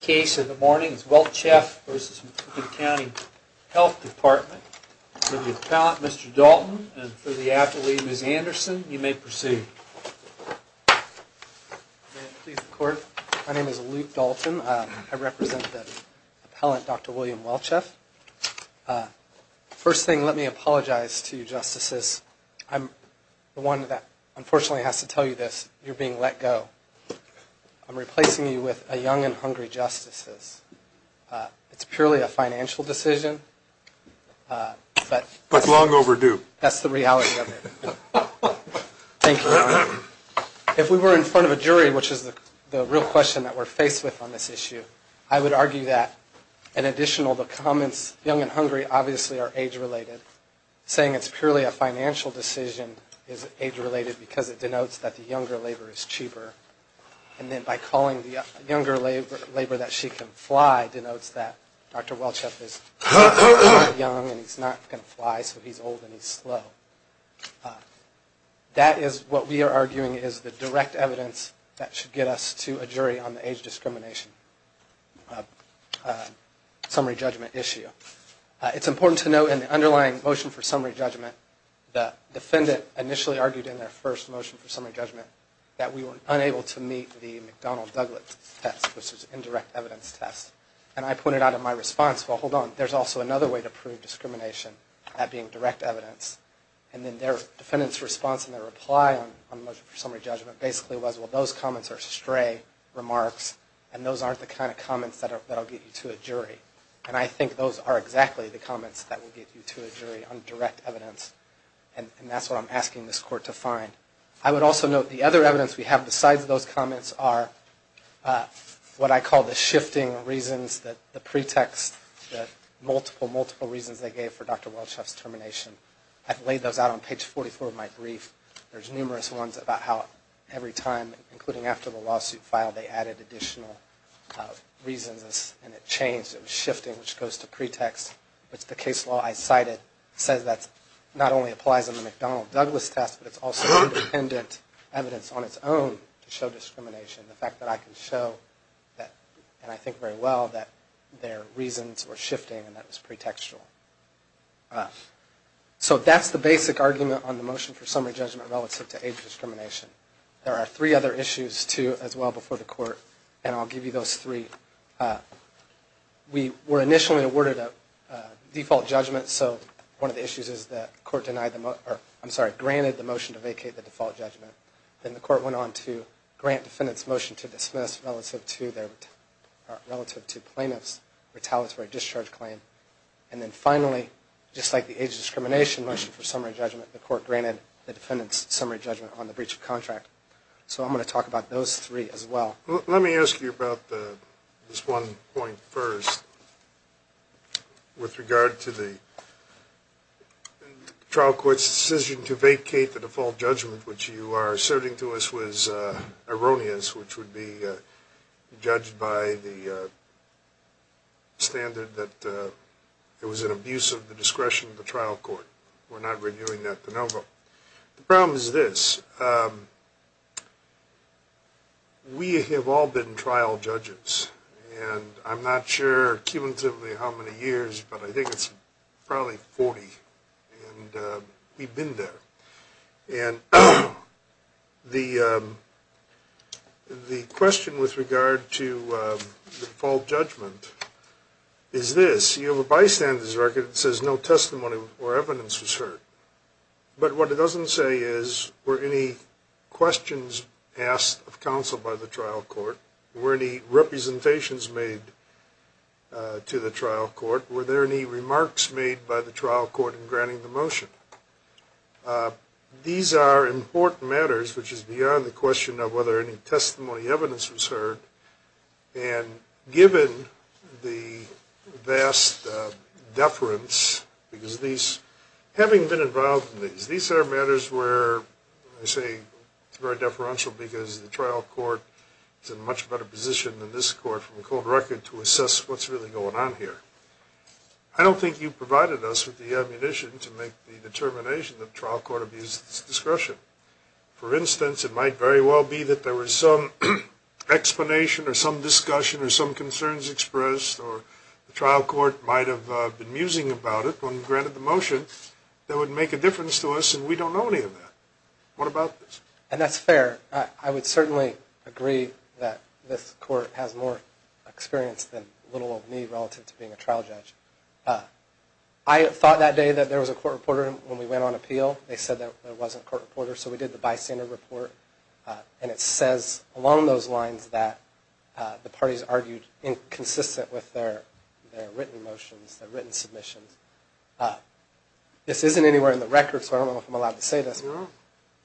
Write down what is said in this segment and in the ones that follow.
The case of the morning is Weltscheff v. Macoupin County Health Department. For the appellant, Mr. Dalton, and for the appellee, Ms. Anderson, you may proceed. May it please the Court, my name is Luke Dalton. I represent the appellant, Dr. William Weltscheff. First thing, let me apologize to you, Justices. The one that unfortunately has to tell you this, you're being let go. I'm replacing you with a Young and Hungry Justices. It's purely a financial decision, but... But long overdue. That's the reality of it. Thank you. If we were in front of a jury, which is the real question that we're faced with on this issue, I would argue that, in addition to all the comments, Young and Hungry obviously are age-related. Saying it's purely a financial decision is age-related because it denotes that the younger labor is cheaper. And then by calling the younger labor that she can fly denotes that Dr. Weltscheff is young and he's not going to fly, so he's old and he's slow. That is what we are arguing is the direct evidence that should get us to a jury on the age discrimination summary judgment issue. It's important to note in the underlying motion for summary judgment, the defendant initially argued in their first motion for summary judgment that we were unable to meet the McDonnell-Douglas test, which is an indirect evidence test. And I pointed out in my response, well, hold on, there's also another way to prove discrimination, that being direct evidence. And then their defendant's response in their reply on the motion for summary judgment basically was, well, those comments are stray remarks and those aren't the kind of comments that will get you to a jury. And I think those are exactly the comments that will get you to a jury on direct evidence. And that's what I'm asking this Court to find. I would also note the other evidence we have besides those comments are what I call the shifting reasons, the pretext, the multiple, multiple reasons they gave for Dr. Weltscheff's termination. I've laid those out on page 44 of my brief. There's numerous ones about how every time, including after the lawsuit filed, they added additional reasons and it changed, it was shifting, which goes to pretext. But the case law I cited says that not only applies in the McDonnell-Douglas test, but it's also independent evidence on its own to show discrimination. The fact that I can show, and I think very well, that their reasons were shifting and that was pretextual. So that's the basic argument on the motion for summary judgment relative to age discrimination. There are three other issues too as well before the Court, and I'll give you those three. We were initially awarded a default judgment. So one of the issues is that the Court denied the motion, or I'm sorry, granted the motion to vacate the default judgment. Then the Court went on to grant defendant's motion to dismiss relative to plaintiff's retaliatory discharge claim. And then finally, just like the age discrimination motion for summary judgment, the Court granted the defendant's summary judgment on the breach of contract. So I'm going to talk about those three as well. Let me ask you about this one point first. With regard to the trial court's decision to vacate the default judgment, which you are asserting to us was erroneous, which would be judged by the standard that it was an abuse of the discretion of the trial court. We're not renewing that de novo. The problem is this. We have all been trial judges, and I'm not sure cumulatively how many years, but I think it's probably 40, and we've been there. And the question with regard to the default judgment is this. You have a bystander's record that says no testimony or evidence was heard. But what it doesn't say is, were any questions asked of counsel by the trial court? Were any representations made to the trial court? Were there any remarks made by the trial court in granting the motion? These are important matters, which is beyond the question of whether any testimony or evidence was heard. And given the vast deference, because these, having been involved in these, these are matters where I say it's very deferential, because the trial court is in a much better position than this court from a cold record to assess what's really going on here. I don't think you provided us with the ammunition to make the determination that the trial court abused its discretion. For instance, it might very well be that there was some explanation or some discussion or some concerns expressed, or the trial court might have been musing about it when granted the motion that would make a difference to us, and we don't know any of that. What about this? And that's fair. I would certainly agree that this court has more experience than little of me relative to being a trial judge. I thought that day that there was a court reporter when we went on appeal. They said there wasn't a court reporter, so we did the bystander report, and it says along those lines that the parties argued inconsistent with their written motions, their written submissions. This isn't anywhere in the record, so I don't know if I'm allowed to say this,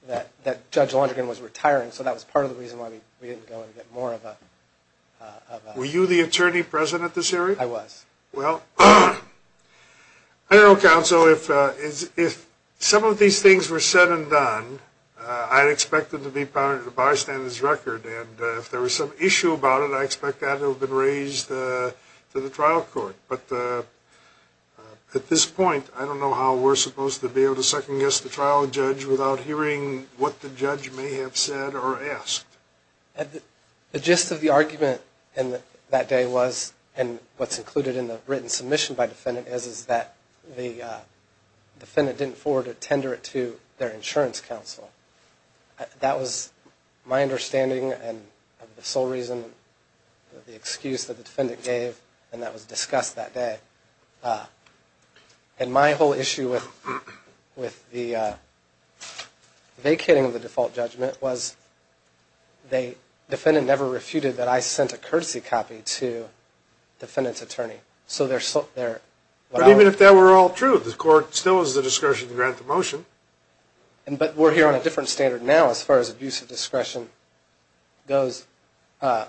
that Judge Lonergan was retiring, so that was part of the reason why we didn't go and get more of a... Were you the attorney president this hearing? I was. Well, I don't know, counsel, if some of these things were said and done, I'd expect them to be part of the bystander's record, and if there was some issue about it, I'd expect that to have been raised to the trial court. But at this point, I don't know how we're supposed to be able to second-guess the trial judge without hearing what the judge may have said or asked. The gist of the argument that day was, and what's included in the written submission by defendant, is that the defendant didn't forward a tender to their insurance counsel. That was my understanding and the sole reason, the excuse that the defendant gave, and that was discussed that day. And my whole issue with the vacating of the default judgment was, the defendant never refuted that I sent a courtesy copy to the defendant's attorney. So they're... But even if that were all true, the court still has the discretion to grant the motion. But we're here on a different standard now as far as abuse of discretion goes. I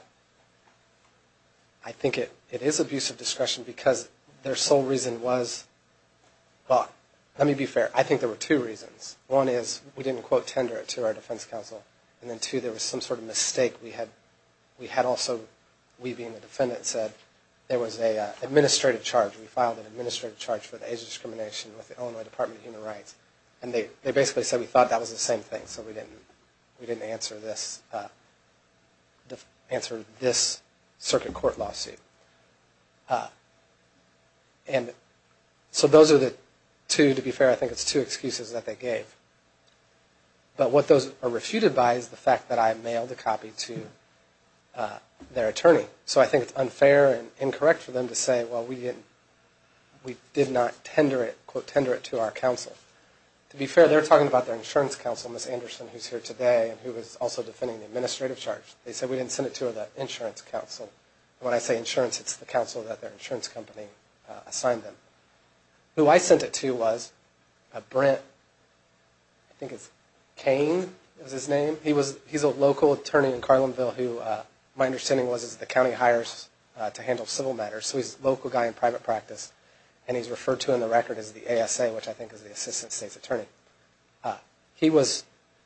think it is abuse of discretion because their sole reason was... Well, let me be fair. I think there were two reasons. One is, we didn't quote tender it to our defense counsel. And then two, there was some sort of mistake we had also, we being the defendant, said there was an administrative charge. We filed an administrative charge for the age of discrimination with the Illinois Department of Human Rights. And they basically said we thought that was the same thing. So we didn't answer this... Answer this circuit court lawsuit. And so those are the two, to be fair, I think it's two excuses that they gave. But what those are refuted by is the fact that I mailed a copy to their attorney. So I think it's unfair and incorrect for them to say, well, we didn't... We did not tender it, quote tender it to our counsel. To be fair, they're talking about their insurance counsel, Ms. Anderson, who's here today and who is also defending the administrative charge. They said we didn't send it to the insurance counsel. When I say insurance, it's the counsel that their insurance company assigned them. Who I sent it to was Brent... I think it's Kane was his name. He's a local attorney in Carlinville who my understanding was is the county hires to handle civil matters. So he's a local guy in private practice. And he's referred to in the record as the ASA, which I think is the assistant state's attorney. He was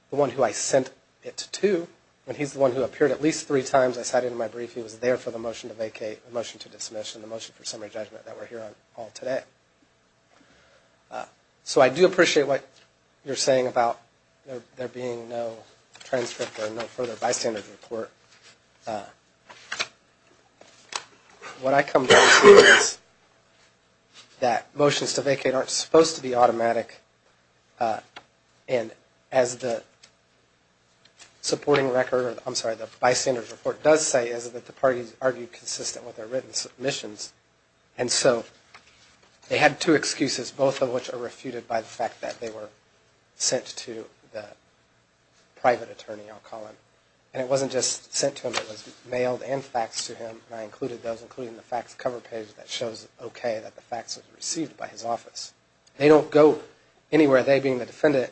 the one who I sent it to. And he's the one who appeared at least three times. I cited him in my brief. He was there for the motion to vacate, the motion to dismiss, and the motion for summary judgment that we're hearing all today. So I do appreciate what you're saying about there being no transcript or no further bystanders report. What I come to see is that motions to vacate aren't supposed to be automatic. And as the supporting record, I'm sorry, the bystanders report does say is that the parties argued consistent with their written submissions. And so they had two excuses, both of which are refuted by the fact that they were sent to the private attorney, I'll call him. And it wasn't just sent to him. It was mailed and faxed to him. And I included those, including the fax cover page that shows okay that the fax was received by his office. They don't go anywhere, they being the defendant,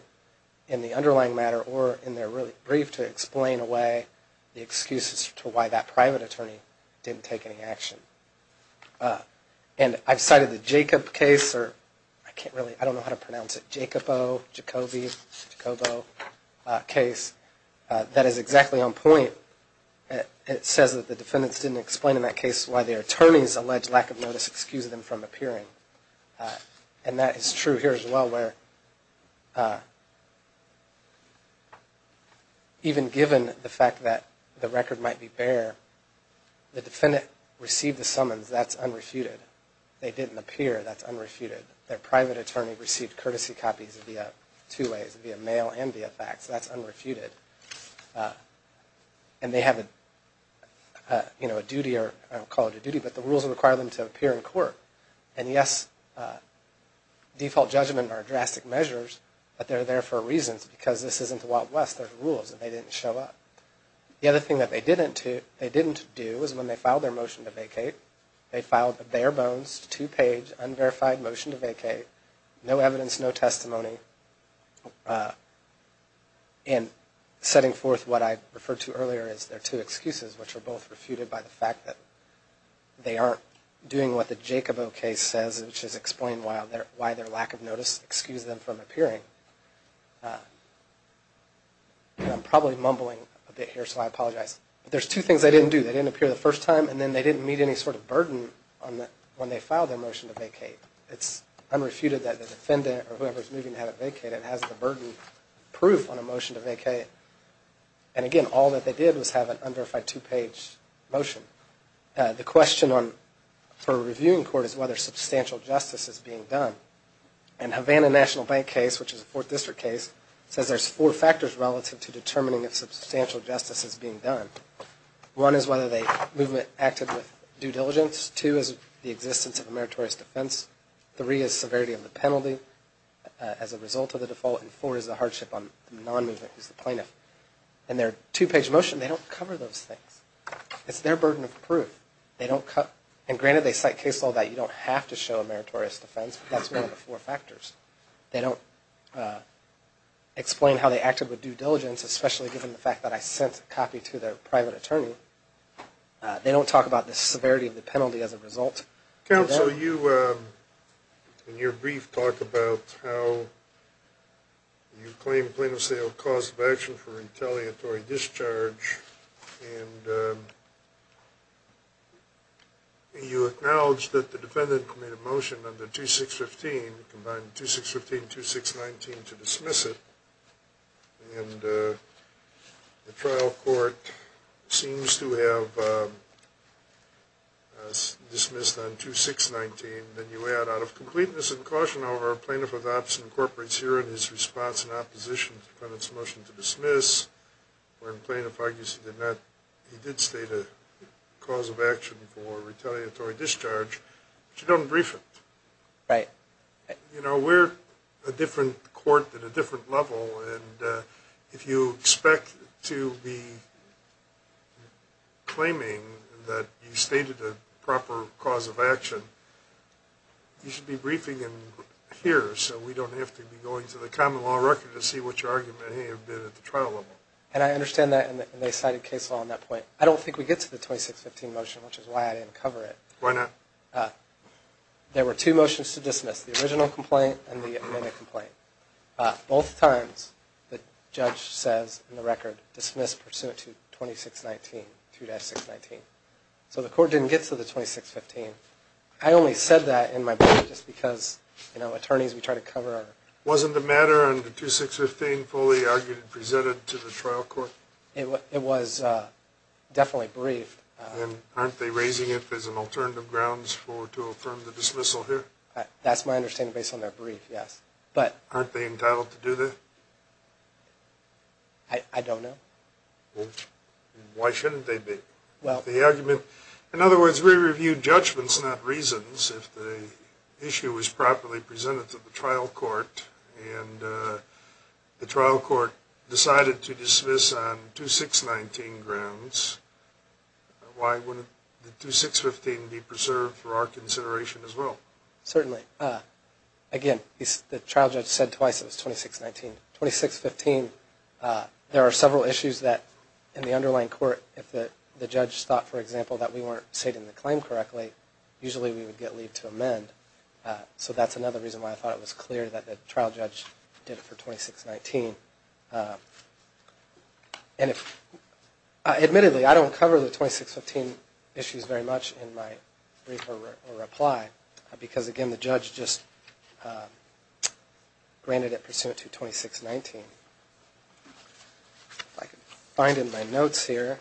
in the underlying matter or in their really brief to explain away the excuses to why that private attorney didn't take any action. And I've cited the Jacob case, or I can't really, I don't know how to pronounce it, Jacobo, Jacoby, Jacobo case, that is exactly on point. It says that the defendants didn't explain in that case why their attorney's alleged lack of notice excused them from appearing. And that is true here as well where even given the fact that the record might be bare, the defendant received the summons, that's unrefuted. They didn't appear, that's unrefuted. Their private attorney received courtesy copies via two ways, via mail and via fax. That's unrefuted. And they have a, you know, a duty or I don't call it a duty, but the rules require them to appear in court. And yes, default judgment are drastic measures, but they're there for reasons because this isn't the Wild West. There's rules and they didn't show up. The other thing that they didn't do is when they filed their motion to vacate, they filed a bare bones, two page, unverified motion to vacate, no evidence, no testimony. And setting forth what I referred to earlier as their two excuses, which are both refuted by the fact that they aren't doing what the Jacobo case says, which is explain why their lack of notice excused them from appearing. And I'm probably mumbling a bit here, so I apologize. There's two things they didn't do. They didn't appear the first time and then they didn't meet any sort of burden when they filed their motion to vacate. It's unrefuted that the defendant or whoever is moving to have it vacated has the burden, proof on a motion to vacate. And again, all that they did was have an unverified two page motion. The question for a reviewing court is whether substantial justice is being done. And Havana National Bank case, which is a fourth district case, says there's four factors relative to determining if substantial justice is being done. One is whether the movement acted with due diligence. Two is the existence of a meritorious defense. Three is severity of the penalty as a result of the default. And four is the hardship on the non-movement, who's the plaintiff. And their two page motion, they don't cover those things. It's their burden of proof. They don't cut. And granted, they cite case law that you don't have to show a meritorious defense, but that's one of the four factors. They don't explain how they acted with due diligence, especially given the fact that I sent a copy to their private attorney. They don't talk about the severity of the penalty as a result. Counsel, you in your brief talk about how you claim plaintiff's liable cause of action for retaliatory discharge, and you acknowledge that the defendant made a motion under 2615, combined 2615 and 2619 to dismiss it. And the trial court seems to have dismissed on 2619. Then you add, out of completeness and caution, however, a plaintiff of the opposite incorporates herein his response in opposition to the defendant's motion to dismiss. When plaintiff argues he did state a cause of action for retaliatory discharge, but you don't brief it. Right. You know, we're a different court at a different level, and if you expect to be claiming that you stated a proper cause of action, you should be briefing in here, so we don't have to be going to the common law record to see what your argument may have been at the trial level. And I understand that, and they cited case law on that point. I don't think we get to the 2615 motion, which is why I didn't cover it. Why not? There were two motions to dismiss, the original complaint and the amended complaint. Both times, the judge says in the record, dismiss pursuant to 2619, 2-619. So the court didn't get to the 2615. I only said that in my brief just because, you know, attorneys, we try to cover our... Wasn't the matter under 2615 fully argued and presented to the trial court? It was definitely briefed. And aren't they raising it as an alternative grounds to affirm the dismissal here? That's my understanding based on their brief, yes. Aren't they entitled to do that? I don't know. Why shouldn't they be? In other words, we reviewed judgments, not reasons, if the issue was properly presented to the trial court, and the trial court decided to dismiss on 2619 grounds. Why wouldn't the 2615 be preserved for our consideration as well? Certainly. Again, the trial judge said twice it was 2619. 2615, there are several issues that in the underlying court, if the judge thought, for example, that we weren't stating the claim correctly, usually we would get leave to amend. So that's another reason why I thought it was clear that the trial judge did it for 2619. Admittedly, I don't cover the 2615 issues very much in my brief or reply, because, again, the judge just granted it pursuant to 2619. If I can find in my notes here.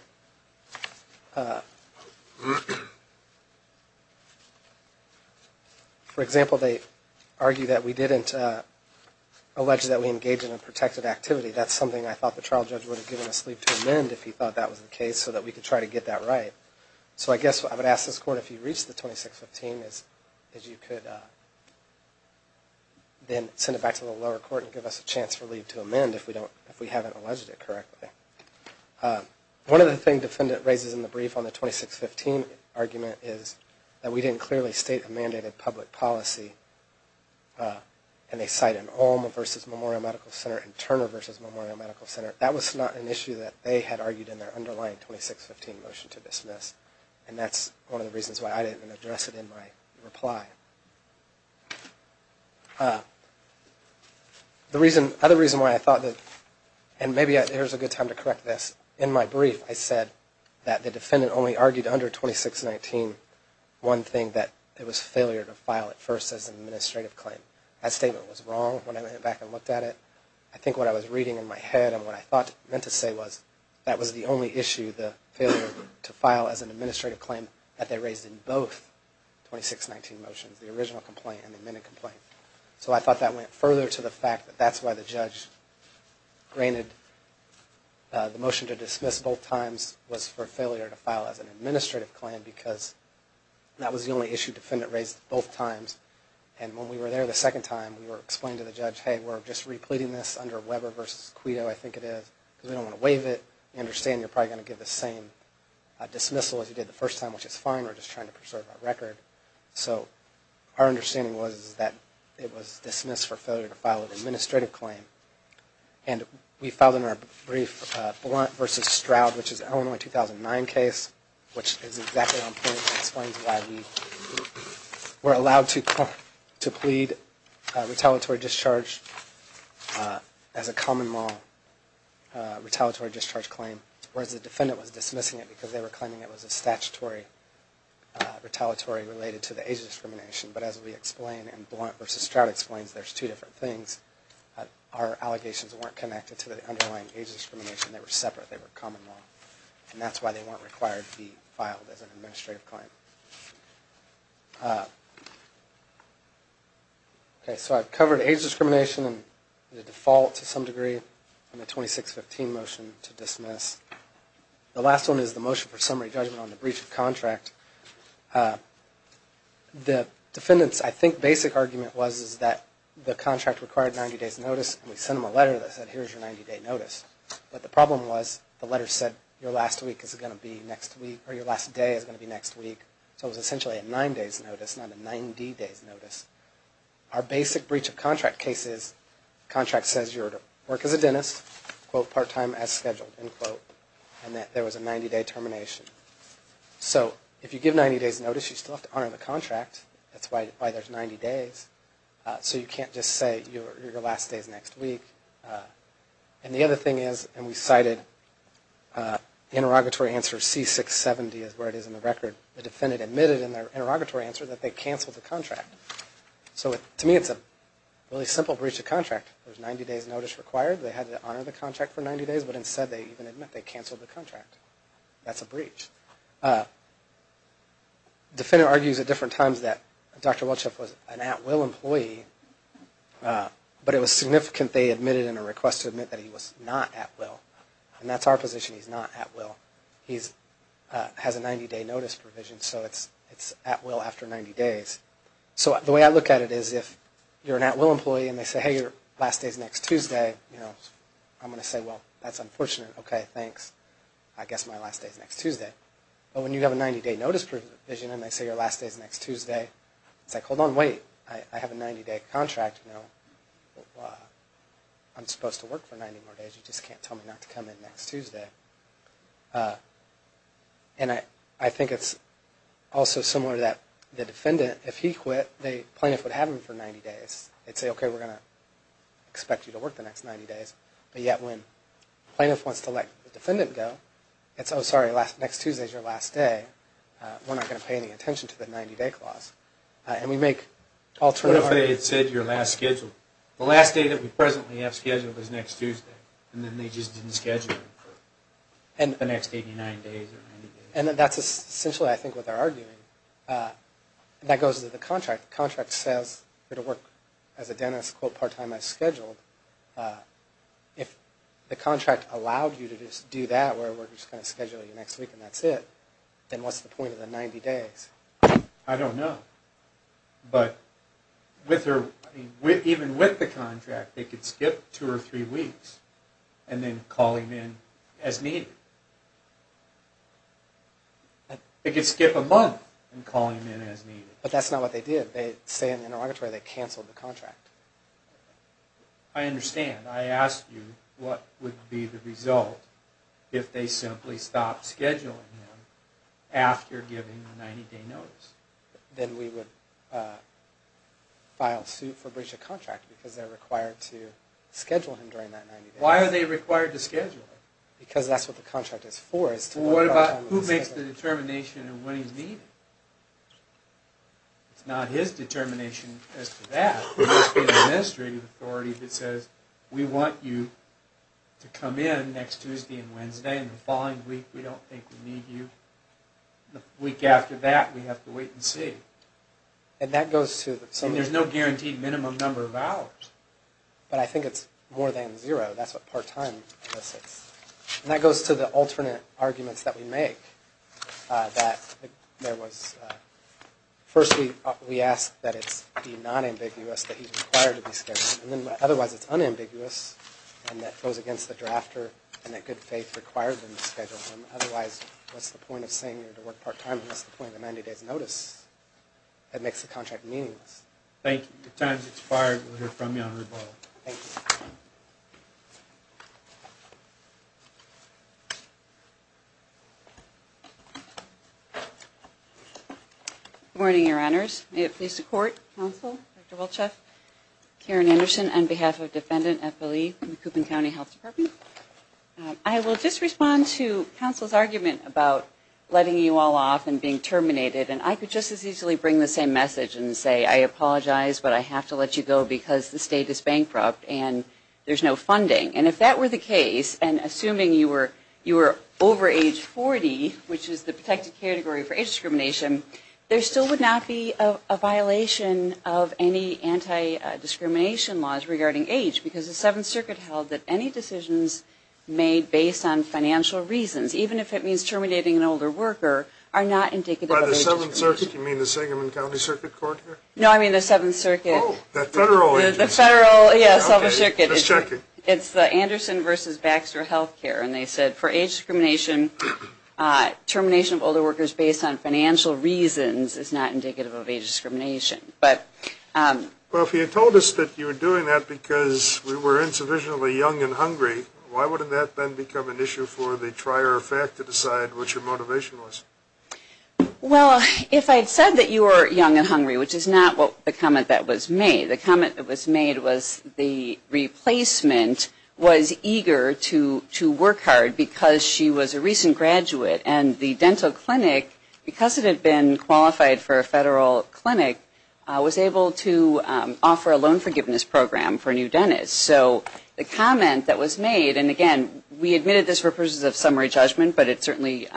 For example, they argue that we didn't allege that we engaged in a protected action, that's something I thought the trial judge would have given us leave to amend if he thought that was the case, so that we could try to get that right. So I guess what I would ask this court, if you reach the 2615, is you could then send it back to the lower court and give us a chance for leave to amend if we haven't alleged it correctly. One of the things the defendant raises in the brief on the 2615 argument is that we didn't clearly state a mandated public policy, and they cite an Olm versus Memorial Medical Center and Turner versus Memorial Medical Center. That was not an issue that they had argued in their underlying 2615 motion to dismiss, and that's one of the reasons why I didn't address it in my reply. The other reason why I thought that, and maybe here's a good time to correct this, in my brief I said that the defendant only argued under 2619 one thing, that it was failure to file at first as an administrative claim. That statement was wrong when I went back and looked at it. I think what I was reading in my head and what I thought it meant to say was that was the only issue, the failure to file as an administrative claim, that they raised in both 2619 motions, the original complaint and the amended complaint. So I thought that went further to the fact that that's why the judge granted the motion to dismiss both times was for failure to file as an administrative claim because that was the only issue the defendant raised both times. And when we were there the second time, we were explaining to the judge, hey, we're just repleting this under Weber versus Quito, I think it is, because we don't want to waive it. We understand you're probably going to get the same dismissal as you did the first time, which is fine, we're just trying to preserve our record. So our understanding was that it was dismissed for failure to file as an administrative claim. And we filed in our brief Blount versus Stroud, which is an Illinois 2009 case, which is exactly on point and explains why we were allowed to plead retaliatory discharge as a common law retaliatory discharge claim, whereas the defendant was dismissing it because they were claiming it was a statutory retaliatory related to the age discrimination. But as we explain in Blount versus Stroud explains, there's two different things. Our allegations weren't connected to the underlying age discrimination, they were separate, they were common law. And that's why they weren't required to be filed as an administrative claim. Okay, so I've covered age discrimination and the default to some degree and the 2615 motion to dismiss. The last one is the motion for summary judgment on the breach of contract. The defendant's, I think, basic argument was that the contract required 90 days notice and we sent them a letter that said here's your 90 day notice. But the problem was the letter said your last week is going to be next week or your last day is going to be next week. So it was essentially a nine days notice, not a 90 days notice. Our basic breach of contract case is contract says you're to work as a dentist, quote, part time as scheduled, end quote, and that there was a 90 day termination. So if you give 90 days notice, you still have to honor the contract. That's why there's 90 days. So you can't just say your last day is next week. And the other thing is, and we cited interrogatory answer C670 is where it is in the record, the defendant admitted in their interrogatory answer that they canceled the contract. So to me it's a really simple breach of contract. There's 90 days notice required, they had to honor the contract for 90 days, but instead they even admit they canceled the contract. That's a breach. Defendant argues at different times that Dr. Welchoff was an at will employee, but it was significant they admitted in a request to admit that he was not at will. And that's our position, he's not at will. He has a 90 day notice provision, so it's at will after 90 days. So the way I look at it is if you're an at will employee and they say, hey, your last day is next Tuesday, I'm going to say, well, that's unfortunate. Okay, thanks. I guess my last day is next Tuesday. But when you have a 90 day notice provision and they say your last day is next Tuesday, it's like, hold on, wait, I have a 90 day contract. I'm supposed to work for 90 more days. You just can't tell me not to come in next Tuesday. And I think it's also similar to the defendant. If he quit, the plaintiff would have him for 90 days. They'd say, okay, we're going to expect you to work the next 90 days. But yet when the plaintiff wants to let the defendant go, it's, oh, sorry, next Tuesday is your last day. We're not going to pay any attention to the 90 day clause. And we make alternative arguments. What if they had said your last schedule? The last day that we presently have scheduled is next Tuesday, and then they just didn't schedule it for the next 89 days or 90 days. And that's essentially, I think, what they're arguing. And that goes to the contract. The contract says you're going to work as a dentist, quote, part-time as scheduled. If the contract allowed you to just do that, where we're just going to schedule you next week and that's it, then what's the point of the 90 days? I don't know. But even with the contract, they could skip two or three weeks and then call him in as needed. They could skip a month and call him in as needed. But that's not what they did. They say in the interrogatory they canceled the contract. I understand. I asked you what would be the result if they simply stopped scheduling him after giving the 90 day notice. Then we would file suit for breach of contract because they're required to schedule him during that 90 day notice. Why are they required to schedule him? Because that's what the contract is for is to work part-time as scheduled. Well, what about who makes the determination of when he's needed? It's not his determination as to that. There must be an administrative authority that says, we want you to come in next Tuesday and Wednesday and the following week we don't think we need you. The week after that we have to wait and see. There's no guaranteed minimum number of hours. But I think it's more than zero. That's what part-time does. That goes to the alternate arguments that we make. First we ask that it be non-ambiguous that he's required to be scheduled. Otherwise it's unambiguous and that goes against the drafter and that good faith required them to schedule him. Otherwise, what's the point of saying you're going to work part-time and what's the point of a 90 day notice? That makes the contract meaningless. Thank you. Your time has expired. We'll hear from you on rebuttal. Thank you. Good morning, Your Honors. May it please the Court, Counsel, Dr. Wiltschaff, Karen Anderson, on behalf of Defendant Eppley from the Coopan County Health Department. I will just respond to Counsel's argument about letting you all off and being terminated. And I could just as easily bring the same message and say, I apologize but I have to let you go because the state is bankrupt and there's no funding. And if that were the case, and assuming you were over age 40, which is the protected category for age discrimination, there still would not be a violation of any anti-discrimination laws regarding age because the Seventh Circuit held that any decisions made based on financial reasons, even if it means terminating an older worker, are not indicative of age discrimination. By the Seventh Circuit, do you mean the Sangamon County Circuit Court here? No, I mean the Seventh Circuit. Oh, the federal agency. The federal, yes. Let's check it. It's the Anderson v. Baxter Health Care. And they said for age discrimination, termination of older workers based on financial reasons is not indicative of age discrimination. Well, if you told us that you were doing that because we were insufficiently young and hungry, why wouldn't that then become an issue for the trier of fact to decide what your motivation was? Well, if I had said that you were young and hungry, which is not the comment that was made, the comment that was made was the replacement was eager to work hard because she was a recent graduate. And the dental clinic, because it had been qualified for a federal clinic, was able to offer a loan forgiveness program for a new dentist. So the comment that was made, and, again, we admitted this for purposes of summary judgment, but it certainly,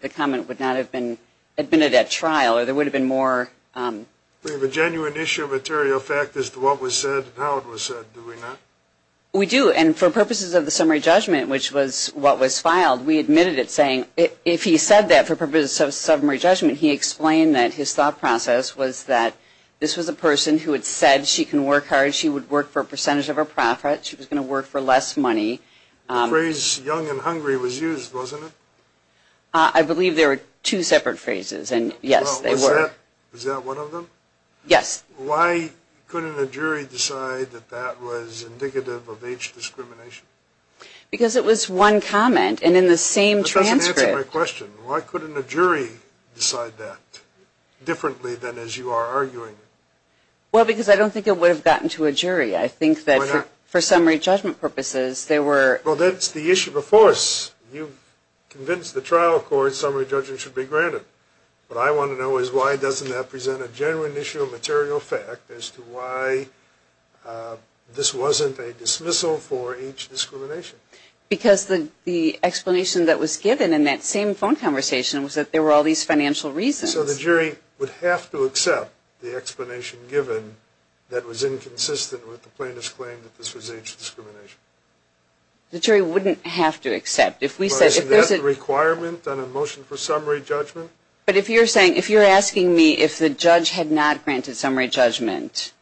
the comment would not have been admitted at trial or there would have been more. We have a genuine issue of material fact as to what was said and how it was said, do we not? We do. And for purposes of the summary judgment, which was what was filed, we admitted it saying if he said that for purposes of summary judgment, he explained that his thought process was that this was a person who had said she can work hard, she would work for a percentage of her profit, she was going to work for less money. The phrase young and hungry was used, wasn't it? I believe there were two separate phrases, and, yes, they were. Was that one of them? Yes. Why couldn't a jury decide that that was indicative of age discrimination? Because it was one comment and in the same transcript. That doesn't answer my question. Why couldn't a jury decide that differently than as you are arguing? Well, because I don't think it would have gotten to a jury. I think that for summary judgment purposes they were. Well, that's the issue before us. You convinced the trial court summary judgment should be granted. What I want to know is why doesn't that present a genuine issue of material fact as to why this wasn't a dismissal for age discrimination? Because the explanation that was given in that same phone conversation was that there were all these financial reasons. So the jury would have to accept the explanation given that was inconsistent with the plaintiff's claim that this was age discrimination. The jury wouldn't have to accept. But isn't that a requirement on a motion for summary judgment? But if you're asking me if the judge had not granted summary judgment,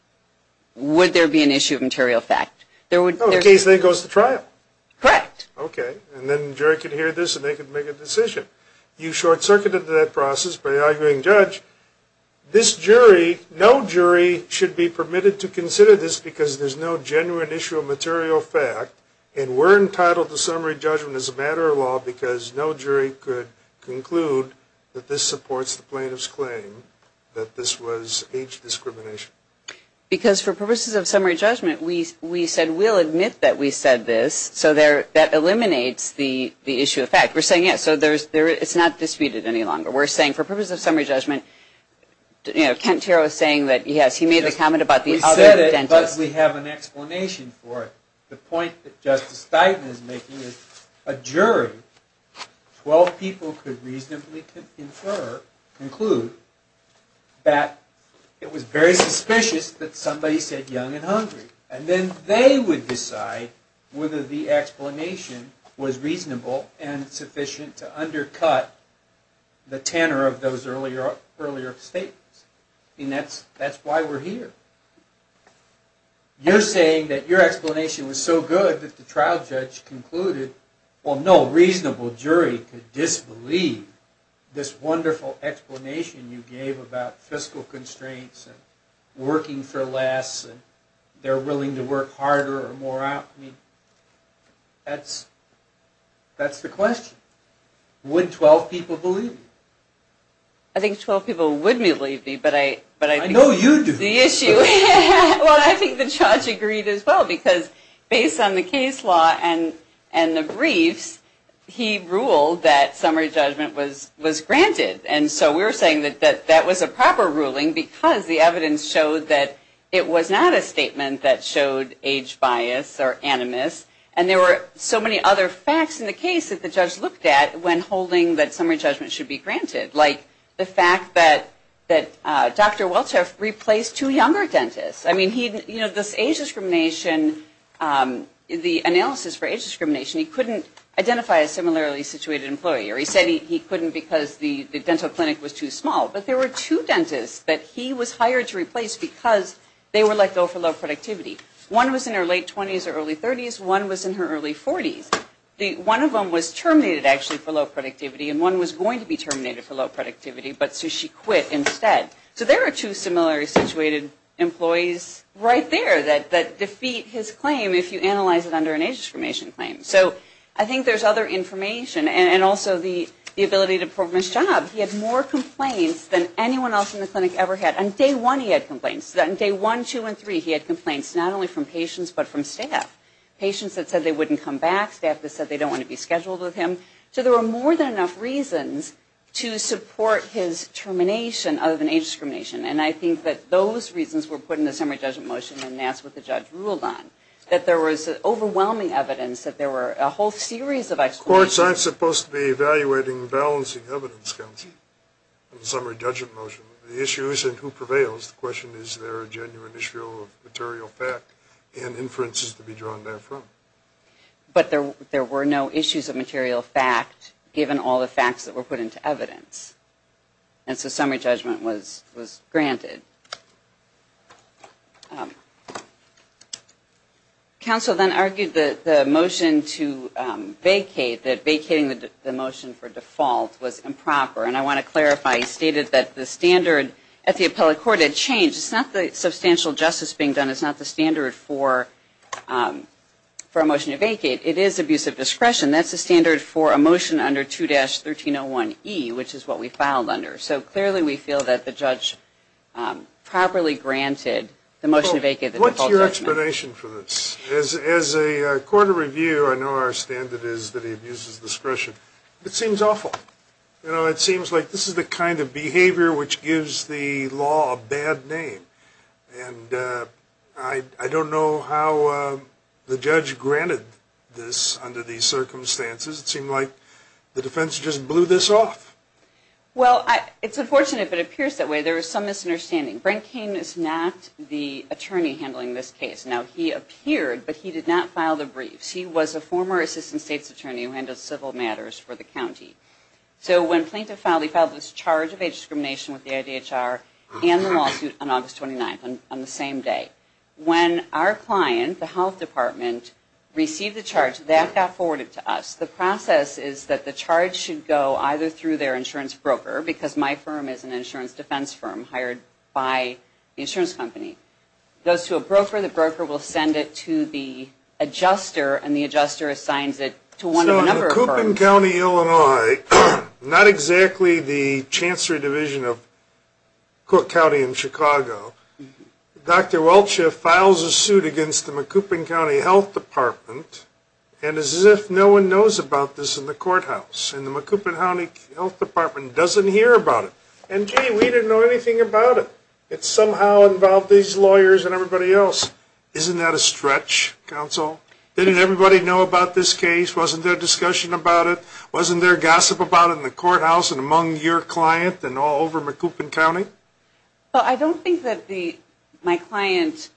would there be an issue of material fact? Oh, in that case it goes to trial. Correct. Okay. And then the jury could hear this and they could make a decision. You short-circuited that process by arguing, Judge, this jury, no jury should be permitted to consider this because there's no genuine issue of material fact and we're entitled to summary judgment as a matter of law because no jury could conclude that this supports the plaintiff's claim that this was age discrimination. Because for purposes of summary judgment, we said we'll admit that we said this, so that eliminates the issue of fact. We're saying, yes, so it's not disputed any longer. We're saying for purposes of summary judgment, you know, Kent Tarrow is saying that, yes, he made the comment about the other dentist. But we have an explanation for it. The point that Justice Stein is making is a jury, 12 people could reasonably infer, conclude that it was very suspicious that somebody said young and hungry. And then they would decide whether the explanation was reasonable and sufficient to undercut the tenor of those earlier statements. I mean, that's why we're here. You're saying that your explanation was so good that the trial judge concluded, well, no reasonable jury could disbelieve this wonderful explanation you gave about fiscal constraints and working for less and they're willing to work harder or more. I mean, that's the question. Would 12 people believe you? I think 12 people would believe me. I know you do. Well, I think the judge agreed as well because based on the case law and the briefs, he ruled that summary judgment was granted. And so we're saying that that was a proper ruling because the evidence showed that it was not a statement that showed age bias or animus. And there were so many other facts in the case that the judge looked at when holding that summary judgment should be granted, like the fact that Dr. Welcheff replaced two younger dentists. I mean, this age discrimination, the analysis for age discrimination, he couldn't identify a similarly situated employee. Or he said he couldn't because the dental clinic was too small. But there were two dentists that he was hired to replace because they were let go for low productivity. One was in her late 20s or early 30s. One was in her early 40s. One of them was terminated actually for low productivity, and one was going to be terminated for low productivity, but so she quit instead. So there are two similarly situated employees right there that defeat his claim if you analyze it under an age discrimination claim. So I think there's other information, and also the ability to perform his job. He had more complaints than anyone else in the clinic ever had. On day one, he had complaints. On day one, two, and three, he had complaints not only from patients but from staff. Patients that said they wouldn't come back. Staff that said they don't want to be scheduled with him. So there were more than enough reasons to support his termination other than age discrimination. And I think that those reasons were put in the summary judgment motion, and that's what the judge ruled on. That there was overwhelming evidence that there were a whole series of explanations. Courts aren't supposed to be evaluating balancing evidence, counsel, in the summary judgment motion. The issue isn't who prevails. The question is, is there a genuine issue of material fact and inferences to draw on there from? But there were no issues of material fact given all the facts that were put into evidence. And so summary judgment was granted. Counsel then argued that the motion to vacate, that vacating the motion for default was improper. And I want to clarify, he stated that the standard at the appellate court had changed. It's not the substantial justice being done. It's not the standard for a motion to vacate. It is abusive discretion. That's the standard for a motion under 2-1301E, which is what we filed under. So clearly we feel that the judge properly granted the motion to vacate the default judgment. What's your explanation for this? As a court of review, I know our standard is that he abuses discretion. It seems awful. It seems like this is the kind of behavior which gives the law a bad name. And I don't know how the judge granted this under these circumstances. It seemed like the defense just blew this off. Well, it's unfortunate, but it appears that way. There is some misunderstanding. Brent Cain is not the attorney handling this case. Now, he appeared, but he did not file the briefs. He was a former assistant state's attorney who handles civil matters for the county. So when Plaintiff filed, he filed this charge of age discrimination with the county on April 29th on the same day. When our client, the health department, received the charge, that got forwarded to us. The process is that the charge should go either through their insurance broker because my firm is an insurance defense firm hired by the insurance company. It goes to a broker. The broker will send it to the adjuster, and the adjuster assigns it to one of the number of firms. McCoupin County, Illinois, not exactly the chancery division of Cook County in Chicago. Dr. Welch files a suit against the McCoupin County Health Department, and it's as if no one knows about this in the courthouse. And the McCoupin County Health Department doesn't hear about it. And gee, we didn't know anything about it. It somehow involved these lawyers and everybody else. Isn't that a stretch, counsel? Didn't everybody know about this case? Wasn't there discussion about it? Wasn't there gossip about it in the courthouse and among your client and all over McCoupin County? Well, I don't think that my client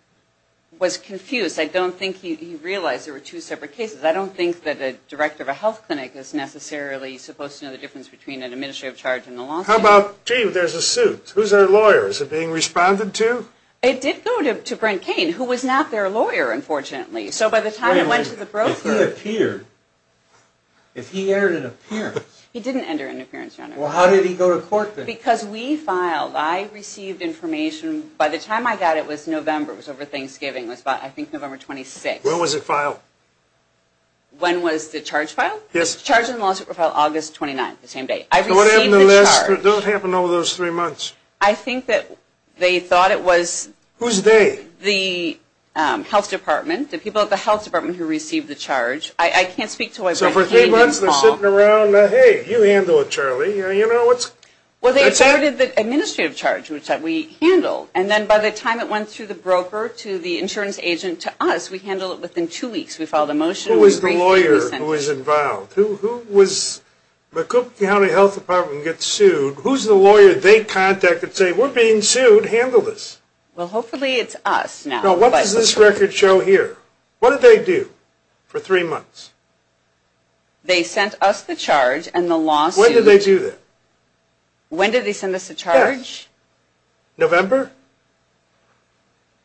was confused. I don't think he realized there were two separate cases. I don't think that a director of a health clinic is necessarily supposed to know the difference between an administrative charge and a lawsuit. How about, gee, there's a suit. Who's our lawyer? Is it being responded to? It did go to Brent Kane, who was not their lawyer, unfortunately. So by the time it went to the broker. Wait a minute. If he appeared, if he entered an appearance. He didn't enter an appearance, Your Honor. Well, how did he go to court then? Because we filed. I received information. By the time I got it, it was November. It was over Thanksgiving. It was, I think, November 26th. When was it filed? When was the charge filed? Yes. The charge and the lawsuit were filed August 29th, the same day. I received the charge. So what happened over those three months? I think that they thought it was. Whose day? The health department. The people at the health department who received the charge. I can't speak to why Brent Kane didn't call. So for three months, they're sitting around. Hey, you handle it, Charlie. You know, what's. Well, they started the administrative charge, which we handled. And then by the time it went through the broker to the insurance agent to us, we handled it within two weeks. We filed a motion. Who was the lawyer who was involved? Who was. The Cook County Health Department gets sued. Who's the lawyer they contact and say, we're being sued. Handle this. Well, hopefully it's us now. No, what does this record show here? What did they do for three months? They sent us the charge and the lawsuit. When did they do that? When did they send us the charge? Yes. November?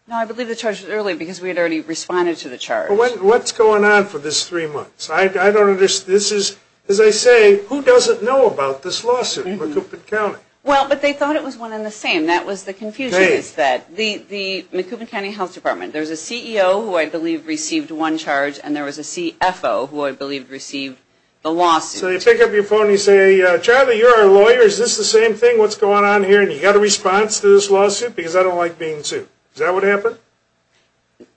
No, I believe the charge was early because we had already responded to the charge. Well, what's going on for this three months? I don't understand. This is, as I say, who doesn't know about this lawsuit in Macoupin County? Well, but they thought it was one and the same. That was the confusion is that. The Macoupin County Health Department, there's a CEO who I believe received one charge, and there was a CFO who I believe received the lawsuit. So you pick up your phone and you say, Charlie, you're our lawyer. Is this the same thing? What's going on here? And you got a response to this lawsuit because I don't like being sued. Is that what happened?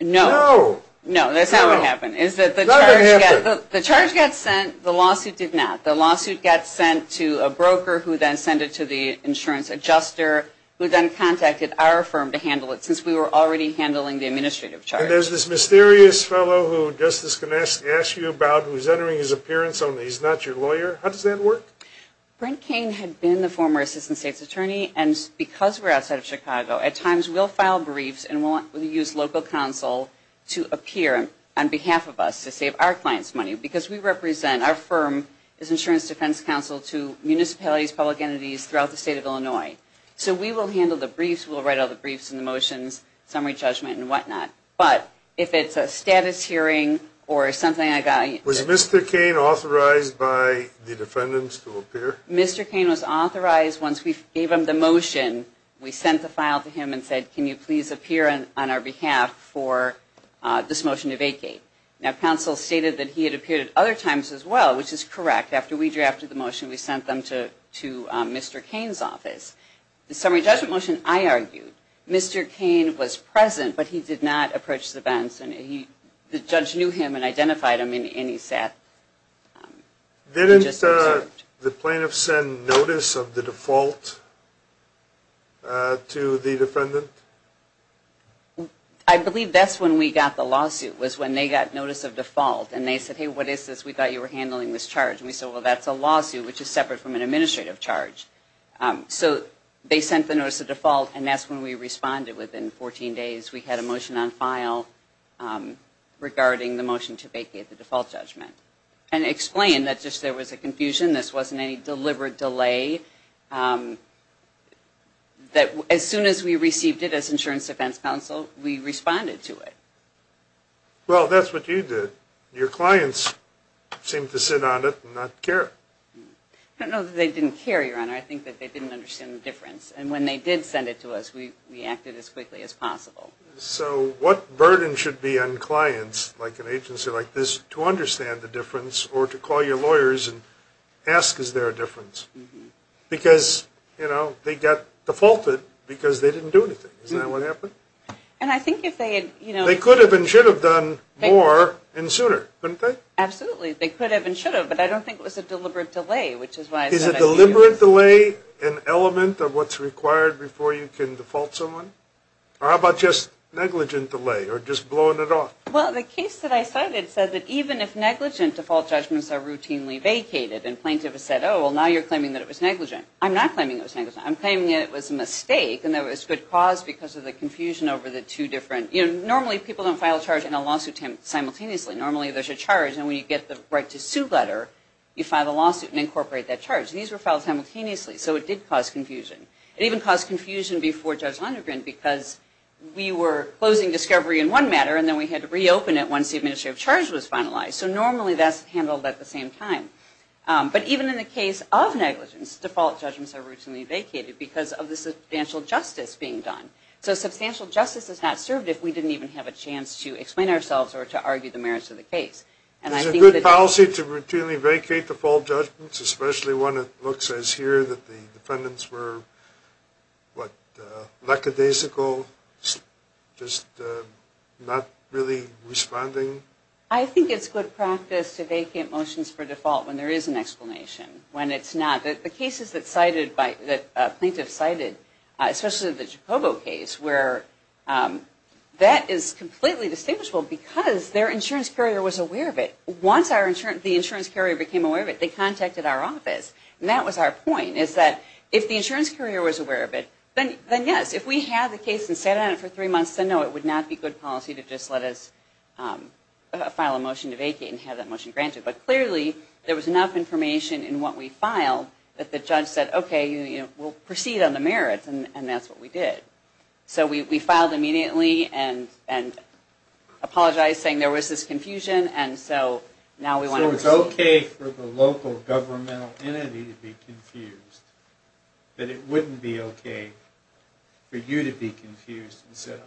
No. No. No, that's not what happened. The charge got sent. The lawsuit did not. The lawsuit got sent to a broker who then sent it to the insurance adjuster who then contacted our firm to handle it since we were already handling the administrative charge. And there's this mysterious fellow who just is going to ask you about who's entering his appearance, and he's not your lawyer. How does that work? Brent Cain had been the former assistant state's attorney, and because we're outside of Chicago, at times we'll file briefs and we'll use local counsel to appear on behalf of us to save our clients money because we represent our firm as insurance defense counsel to municipalities, public entities throughout the state of Illinois. So we will handle the briefs. We'll write all the briefs and the motions, summary judgment and whatnot. But if it's a status hearing or something like that. Was Mr. Cain authorized by the defendants to appear? Mr. Cain was authorized. Once we gave him the motion, we sent the file to him and said, can you please appear on our behalf for this motion to vacate? Now, counsel stated that he had appeared at other times as well, which is correct. After we drafted the motion, we sent them to Mr. Cain's office. The summary judgment motion, I argued, Mr. Cain was present, but he did not approach the defense. The judge knew him and identified him, and he sat. Didn't the plaintiff send notice of the default to the defendant? I believe that's when we got the lawsuit was when they got notice of default, and they said, hey, what is this? We thought you were handling this charge. And we said, well, that's a lawsuit, which is separate from an administrative charge. So they sent the notice of default, and that's when we responded within 14 days. We had a motion on file regarding the motion to vacate the default judgment and explain that just there was a confusion. This wasn't any deliberate delay. As soon as we received it as insurance defense counsel, we responded to it. Well, that's what you did. Your clients seemed to sit on it and not care. I don't know that they didn't care, Your Honor. I think that they didn't understand the difference. And when they did send it to us, we reacted as quickly as possible. So what burden should be on clients like an agency like this to understand the difference or to call your lawyers and ask, is there a difference? Because, you know, they got defaulted because they didn't do anything. Isn't that what happened? And I think if they had, you know ---- They could have and should have done more and sooner, couldn't they? Absolutely. They could have and should have, but I don't think it was a deliberate delay, which is why ---- Is a deliberate delay an element of what's required before you can default someone? Or how about just negligent delay or just blowing it off? Well, the case that I cited said that even if negligent default judgments are routinely vacated and plaintiff has said, oh, well, now you're claiming that it was negligent. I'm not claiming it was negligent. I'm claiming it was a mistake and that it was good cause because of the confusion over the two different ---- You know, normally people don't file a charge in a lawsuit simultaneously. Normally there's a charge and when you get the right to sue letter, you file a lawsuit and incorporate that charge. These were filed simultaneously, so it did cause confusion. It even caused confusion before Judge Lonergan because we were closing discovery in one matter and then we had to reopen it once the administrative charge was finalized. So normally that's handled at the same time. But even in the case of negligence, default judgments are routinely vacated because of the substantial justice being done. So substantial justice is not served if we didn't even have a chance to explain ourselves or to argue the merits of the case. Is it good policy to routinely vacate default judgments, especially when it looks as here that the defendants were, what, lackadaisical, just not really responding? I think it's good practice to vacate motions for default when there is an explanation, when it's not. The cases that plaintiffs cited, especially the Jacobo case, where that is completely distinguishable because their insurance carrier was aware of it. Once the insurance carrier became aware of it, they contacted our office. And that was our point is that if the insurance carrier was aware of it, then yes. If we had the case and sat on it for three months, then no, it would not be good policy to just let us file a motion to vacate and have that motion granted. But clearly, there was enough information in what we filed that the judge said, okay, we'll proceed on the merits, and that's what we did. So we filed immediately and apologized, saying there was this confusion, and so now we want to proceed. So it's okay for the local governmental entity to be confused, but it wouldn't be okay for you to be confused and sit on it?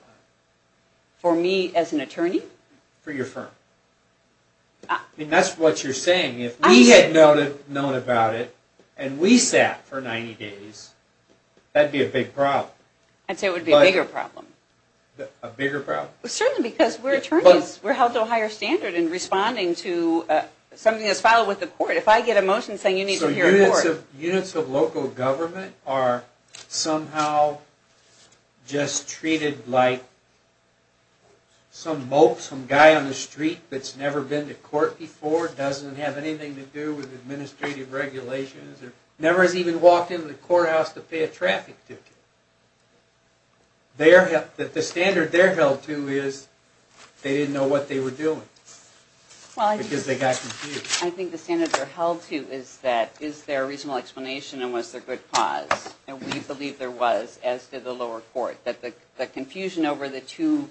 For me as an attorney? For your firm. I mean, that's what you're saying. If we had known about it and we sat for 90 days, that would be a big problem. I'd say it would be a bigger problem. A bigger problem? Certainly, because we're attorneys. We're held to a higher standard in responding to something that's filed with the court. If I get a motion saying you need to hear a court. Units of local government are somehow just treated like some mope, some guy on the street that's never been to court before, doesn't have anything to do with administrative regulations, or never has even walked into the courthouse to pay a traffic ticket. The standard they're held to is they didn't know what they were doing because they got confused. I think the standard they're held to is that, is there a reasonable explanation and was there good cause? And we believe there was, as did the lower court, that the confusion over the two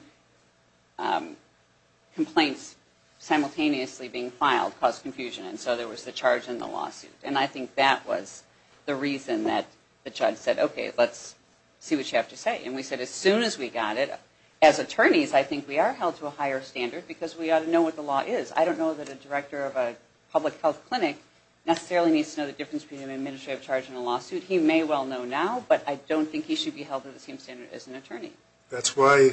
complaints simultaneously being filed caused confusion. And so there was the charge and the lawsuit. And I think that was the reason that the judge said, okay, let's see what you have to say. And we said as soon as we got it, as attorneys, I think we are held to a higher standard because we ought to know what the law is. I don't know that a director of a public health clinic necessarily needs to know the difference between an administrative charge and a lawsuit. He may well know now, but I don't think he should be held to the same standard as an attorney. That's why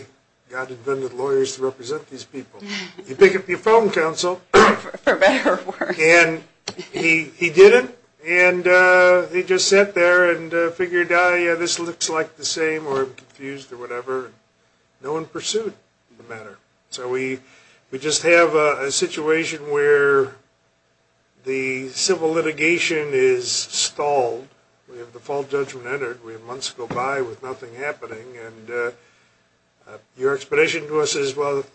God invented lawyers to represent these people. You pick up your phone, counsel. For better or worse. And he did it, and he just sat there and figured, this looks like the same or I'm confused or whatever. No one pursued the matter. So we just have a situation where the civil litigation is stalled. We have the full judgment entered. We have months to go by with nothing happening. And your explanation to us is, well,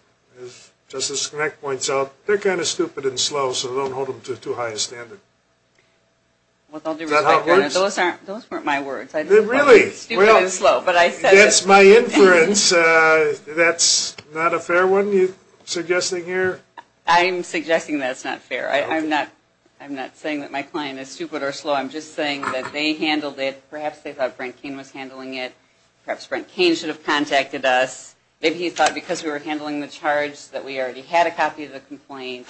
as Justice Schenect points out, they're kind of stupid and slow, so don't hold them to too high a standard. Is that how it works? Those weren't my words. Really? Stupid and slow. That's my inference. That's not a fair one you're suggesting here? I'm suggesting that's not fair. I'm not saying that my client is stupid or slow. I'm just saying that they handled it. Perhaps they thought Brent Cain was handling it. Perhaps Brent Cain should have contacted us. Maybe he thought because we were handling the charge that we already had a copy of the complaint.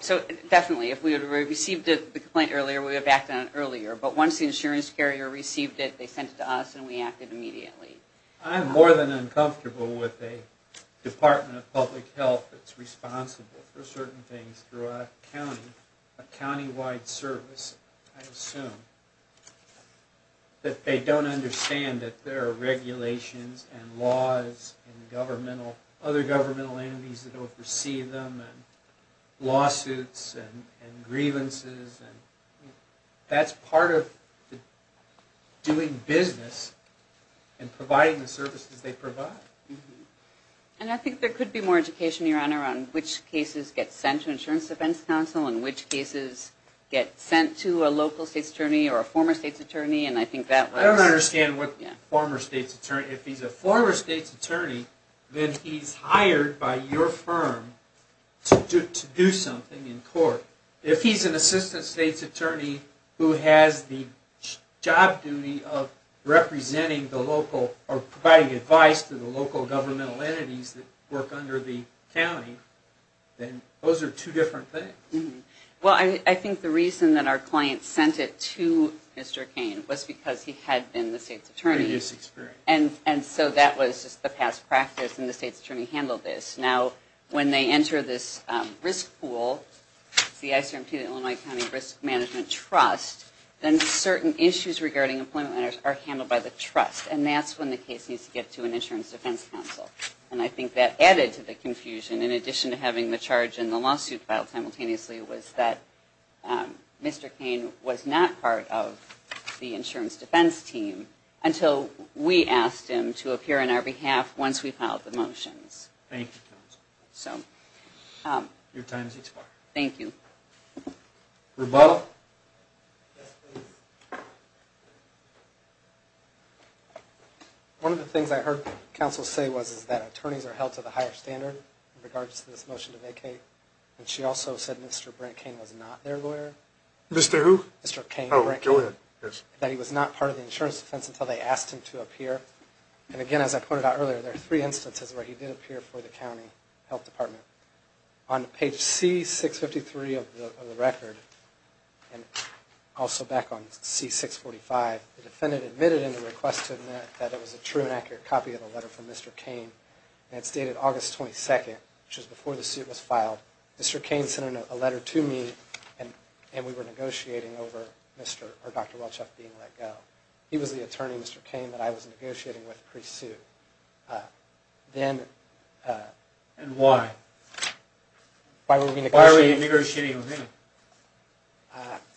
So definitely, if we had received the complaint earlier, we would have acted on it earlier. But once the insurance carrier received it, they sent it to us, and we acted immediately. I'm more than uncomfortable with a Department of Public Health that's responsible for certain things throughout a county, a countywide service, I assume, that they don't understand that there are regulations and laws and other governmental entities that oversee them and lawsuits and grievances. That's part of doing business and providing the services they provide. And I think there could be more education, Your Honor, on which cases get sent to Insurance Defense Counsel and which cases get sent to a local state's attorney or a former state's attorney. I don't understand what former state's attorney. If he's a former state's attorney, then he's hired by your firm to do something in court. If he's an assistant state's attorney who has the job duty of representing the local or providing advice to the local governmental entities that work under the county, then those are two different things. Well, I think the reason that our client sent it to Mr. Cain was because he had been the state's attorney. Previous experience. And so that was just the past practice, and the state's attorney handled this. Now, when they enter this risk pool, the ICRP, the Illinois County Risk Management Trust, then certain issues regarding employment are handled by the trust, and that's when the case needs to get to an Insurance Defense Counsel. And I think that added to the confusion, in addition to having the charge and the lawsuit filed simultaneously, was that Mr. Cain was not part of the Insurance Defense Team until we asked him to appear on our behalf once we filed the motions. Thank you, Counsel. Your time has expired. Thank you. Rebuttal? Yes, please. One of the things I heard Counsel say was that attorneys are held to the higher standard in regards to this motion to vacate, and she also said Mr. Brent Cain was not their lawyer. Mr. Who? Mr. Cain. Oh, go ahead. That he was not part of the Insurance Defense until they asked him to appear. And again, as I pointed out earlier, there are three instances where he did appear for the County Health Department. On page C653 of the record, and also back on C645, the defendant admitted in the request to admit that it was a true and accurate copy of the letter from Mr. Cain, and it's dated August 22nd, which is before the suit was filed. Mr. Cain sent a letter to me, and we were negotiating over Dr. Welchuff being let go. He was the attorney, Mr. Cain, that I was negotiating with pre-suit. And why? Why were we negotiating? Why were you negotiating with him?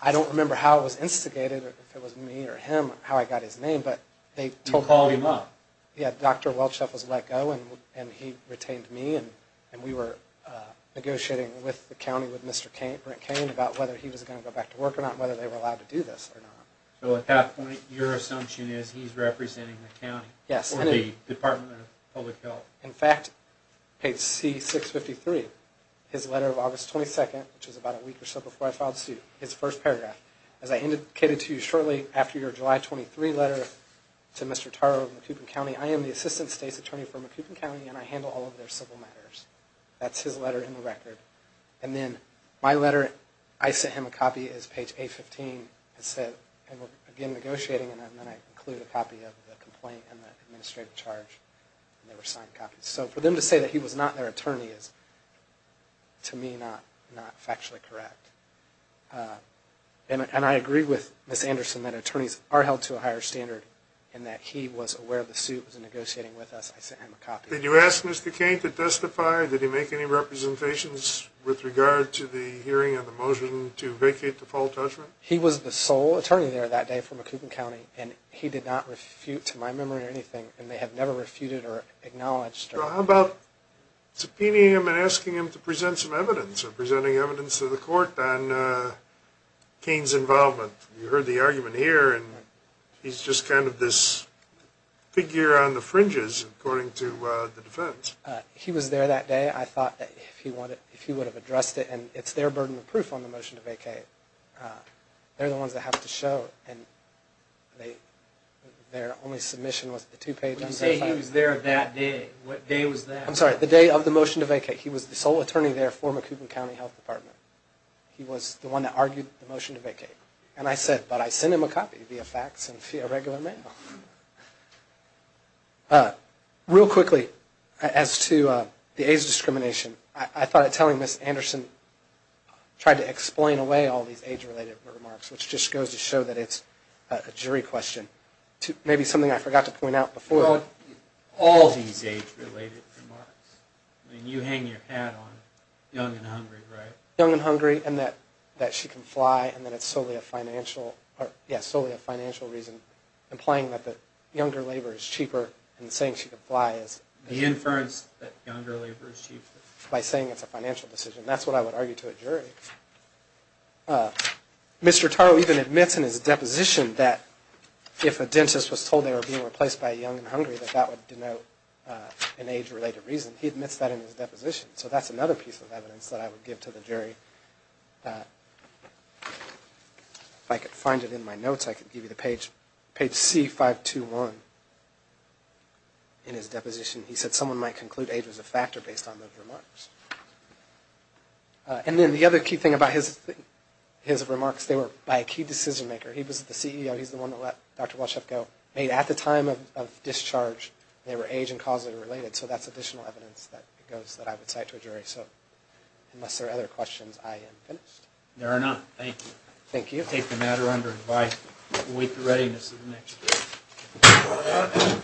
I don't remember how it was instigated, if it was me or him, how I got his name, but they told me. You called him up. Yeah, Dr. Welchuff was let go, and he retained me, and we were negotiating with the county with Mr. Brent Cain about whether he was going to go back to work or not, whether they were allowed to do this or not. So at that point, your assumption is he's representing the county or the Department of Public Health. In fact, page C653, his letter of August 22nd, which is about a week or so before I filed suit, his first paragraph, as I indicated to you shortly after your July 23 letter to Mr. Taro of Macoupin County, I am the assistant state's attorney for Macoupin County, and I handle all of their civil matters. That's his letter in the record. And then my letter, I sent him a copy as page A15, and said we're again negotiating, and then I included a copy of the complaint and the administrative charge, and they were signed copies. So for them to say that he was not their attorney is, to me, not factually correct. And I agree with Ms. Anderson that attorneys are held to a higher standard and that he was aware of the suit, was negotiating with us. I sent him a copy. Did you ask Mr. Cain to testify? Did he make any representations with regard to the hearing of the motion to vacate the full judgment? He was the sole attorney there that day for Macoupin County, and he did not refute to my memory anything, and they have never refuted or acknowledged. Well, how about subpoenaing him and asking him to present some evidence or presenting evidence to the court on Cain's involvement? You heard the argument here, and he's just kind of this figure on the fringes, according to the defense. He was there that day. I thought that if he would have addressed it, and it's their burden of proof on the motion to vacate. They're the ones that have to show, and their only submission was the two pages. When you say he was there that day, what day was that? I'm sorry, the day of the motion to vacate. He was the sole attorney there for Macoupin County Health Department. He was the one that argued the motion to vacate. And I said, but I sent him a copy via fax and via regular mail. Real quickly, as to the age discrimination, I thought that telling Ms. Anderson tried to explain away all these age-related remarks, which just goes to show that it's a jury question. Maybe something I forgot to point out before. All these age-related remarks? I mean, you hang your hat on young and hungry, right? Young and hungry, and that she can fly, and that it's solely a financial reason, implying that the younger labor is cheaper, and saying she can fly is. The inference that younger labor is cheaper. By saying it's a financial decision. That's what I would argue to a jury. Mr. Taro even admits in his deposition that if a dentist was told they were being replaced by young and hungry, that that would denote an age-related reason. He admits that in his deposition. So that's another piece of evidence that I would give to the jury. If I could find it in my notes, I could give you the page, page C-521. In his deposition, he said someone might conclude age was a factor based on those remarks. And then the other key thing about his remarks, they were by a key decision maker. He was the CEO. He's the one that let Dr. Walsheff go. Made at the time of discharge, they were age and causally related. So that's additional evidence that goes that I would cite to a jury. So unless there are other questions, I am finished. There are none. Thank you. Thank you. I take the matter under advice. We'll wait for readiness of the next jury.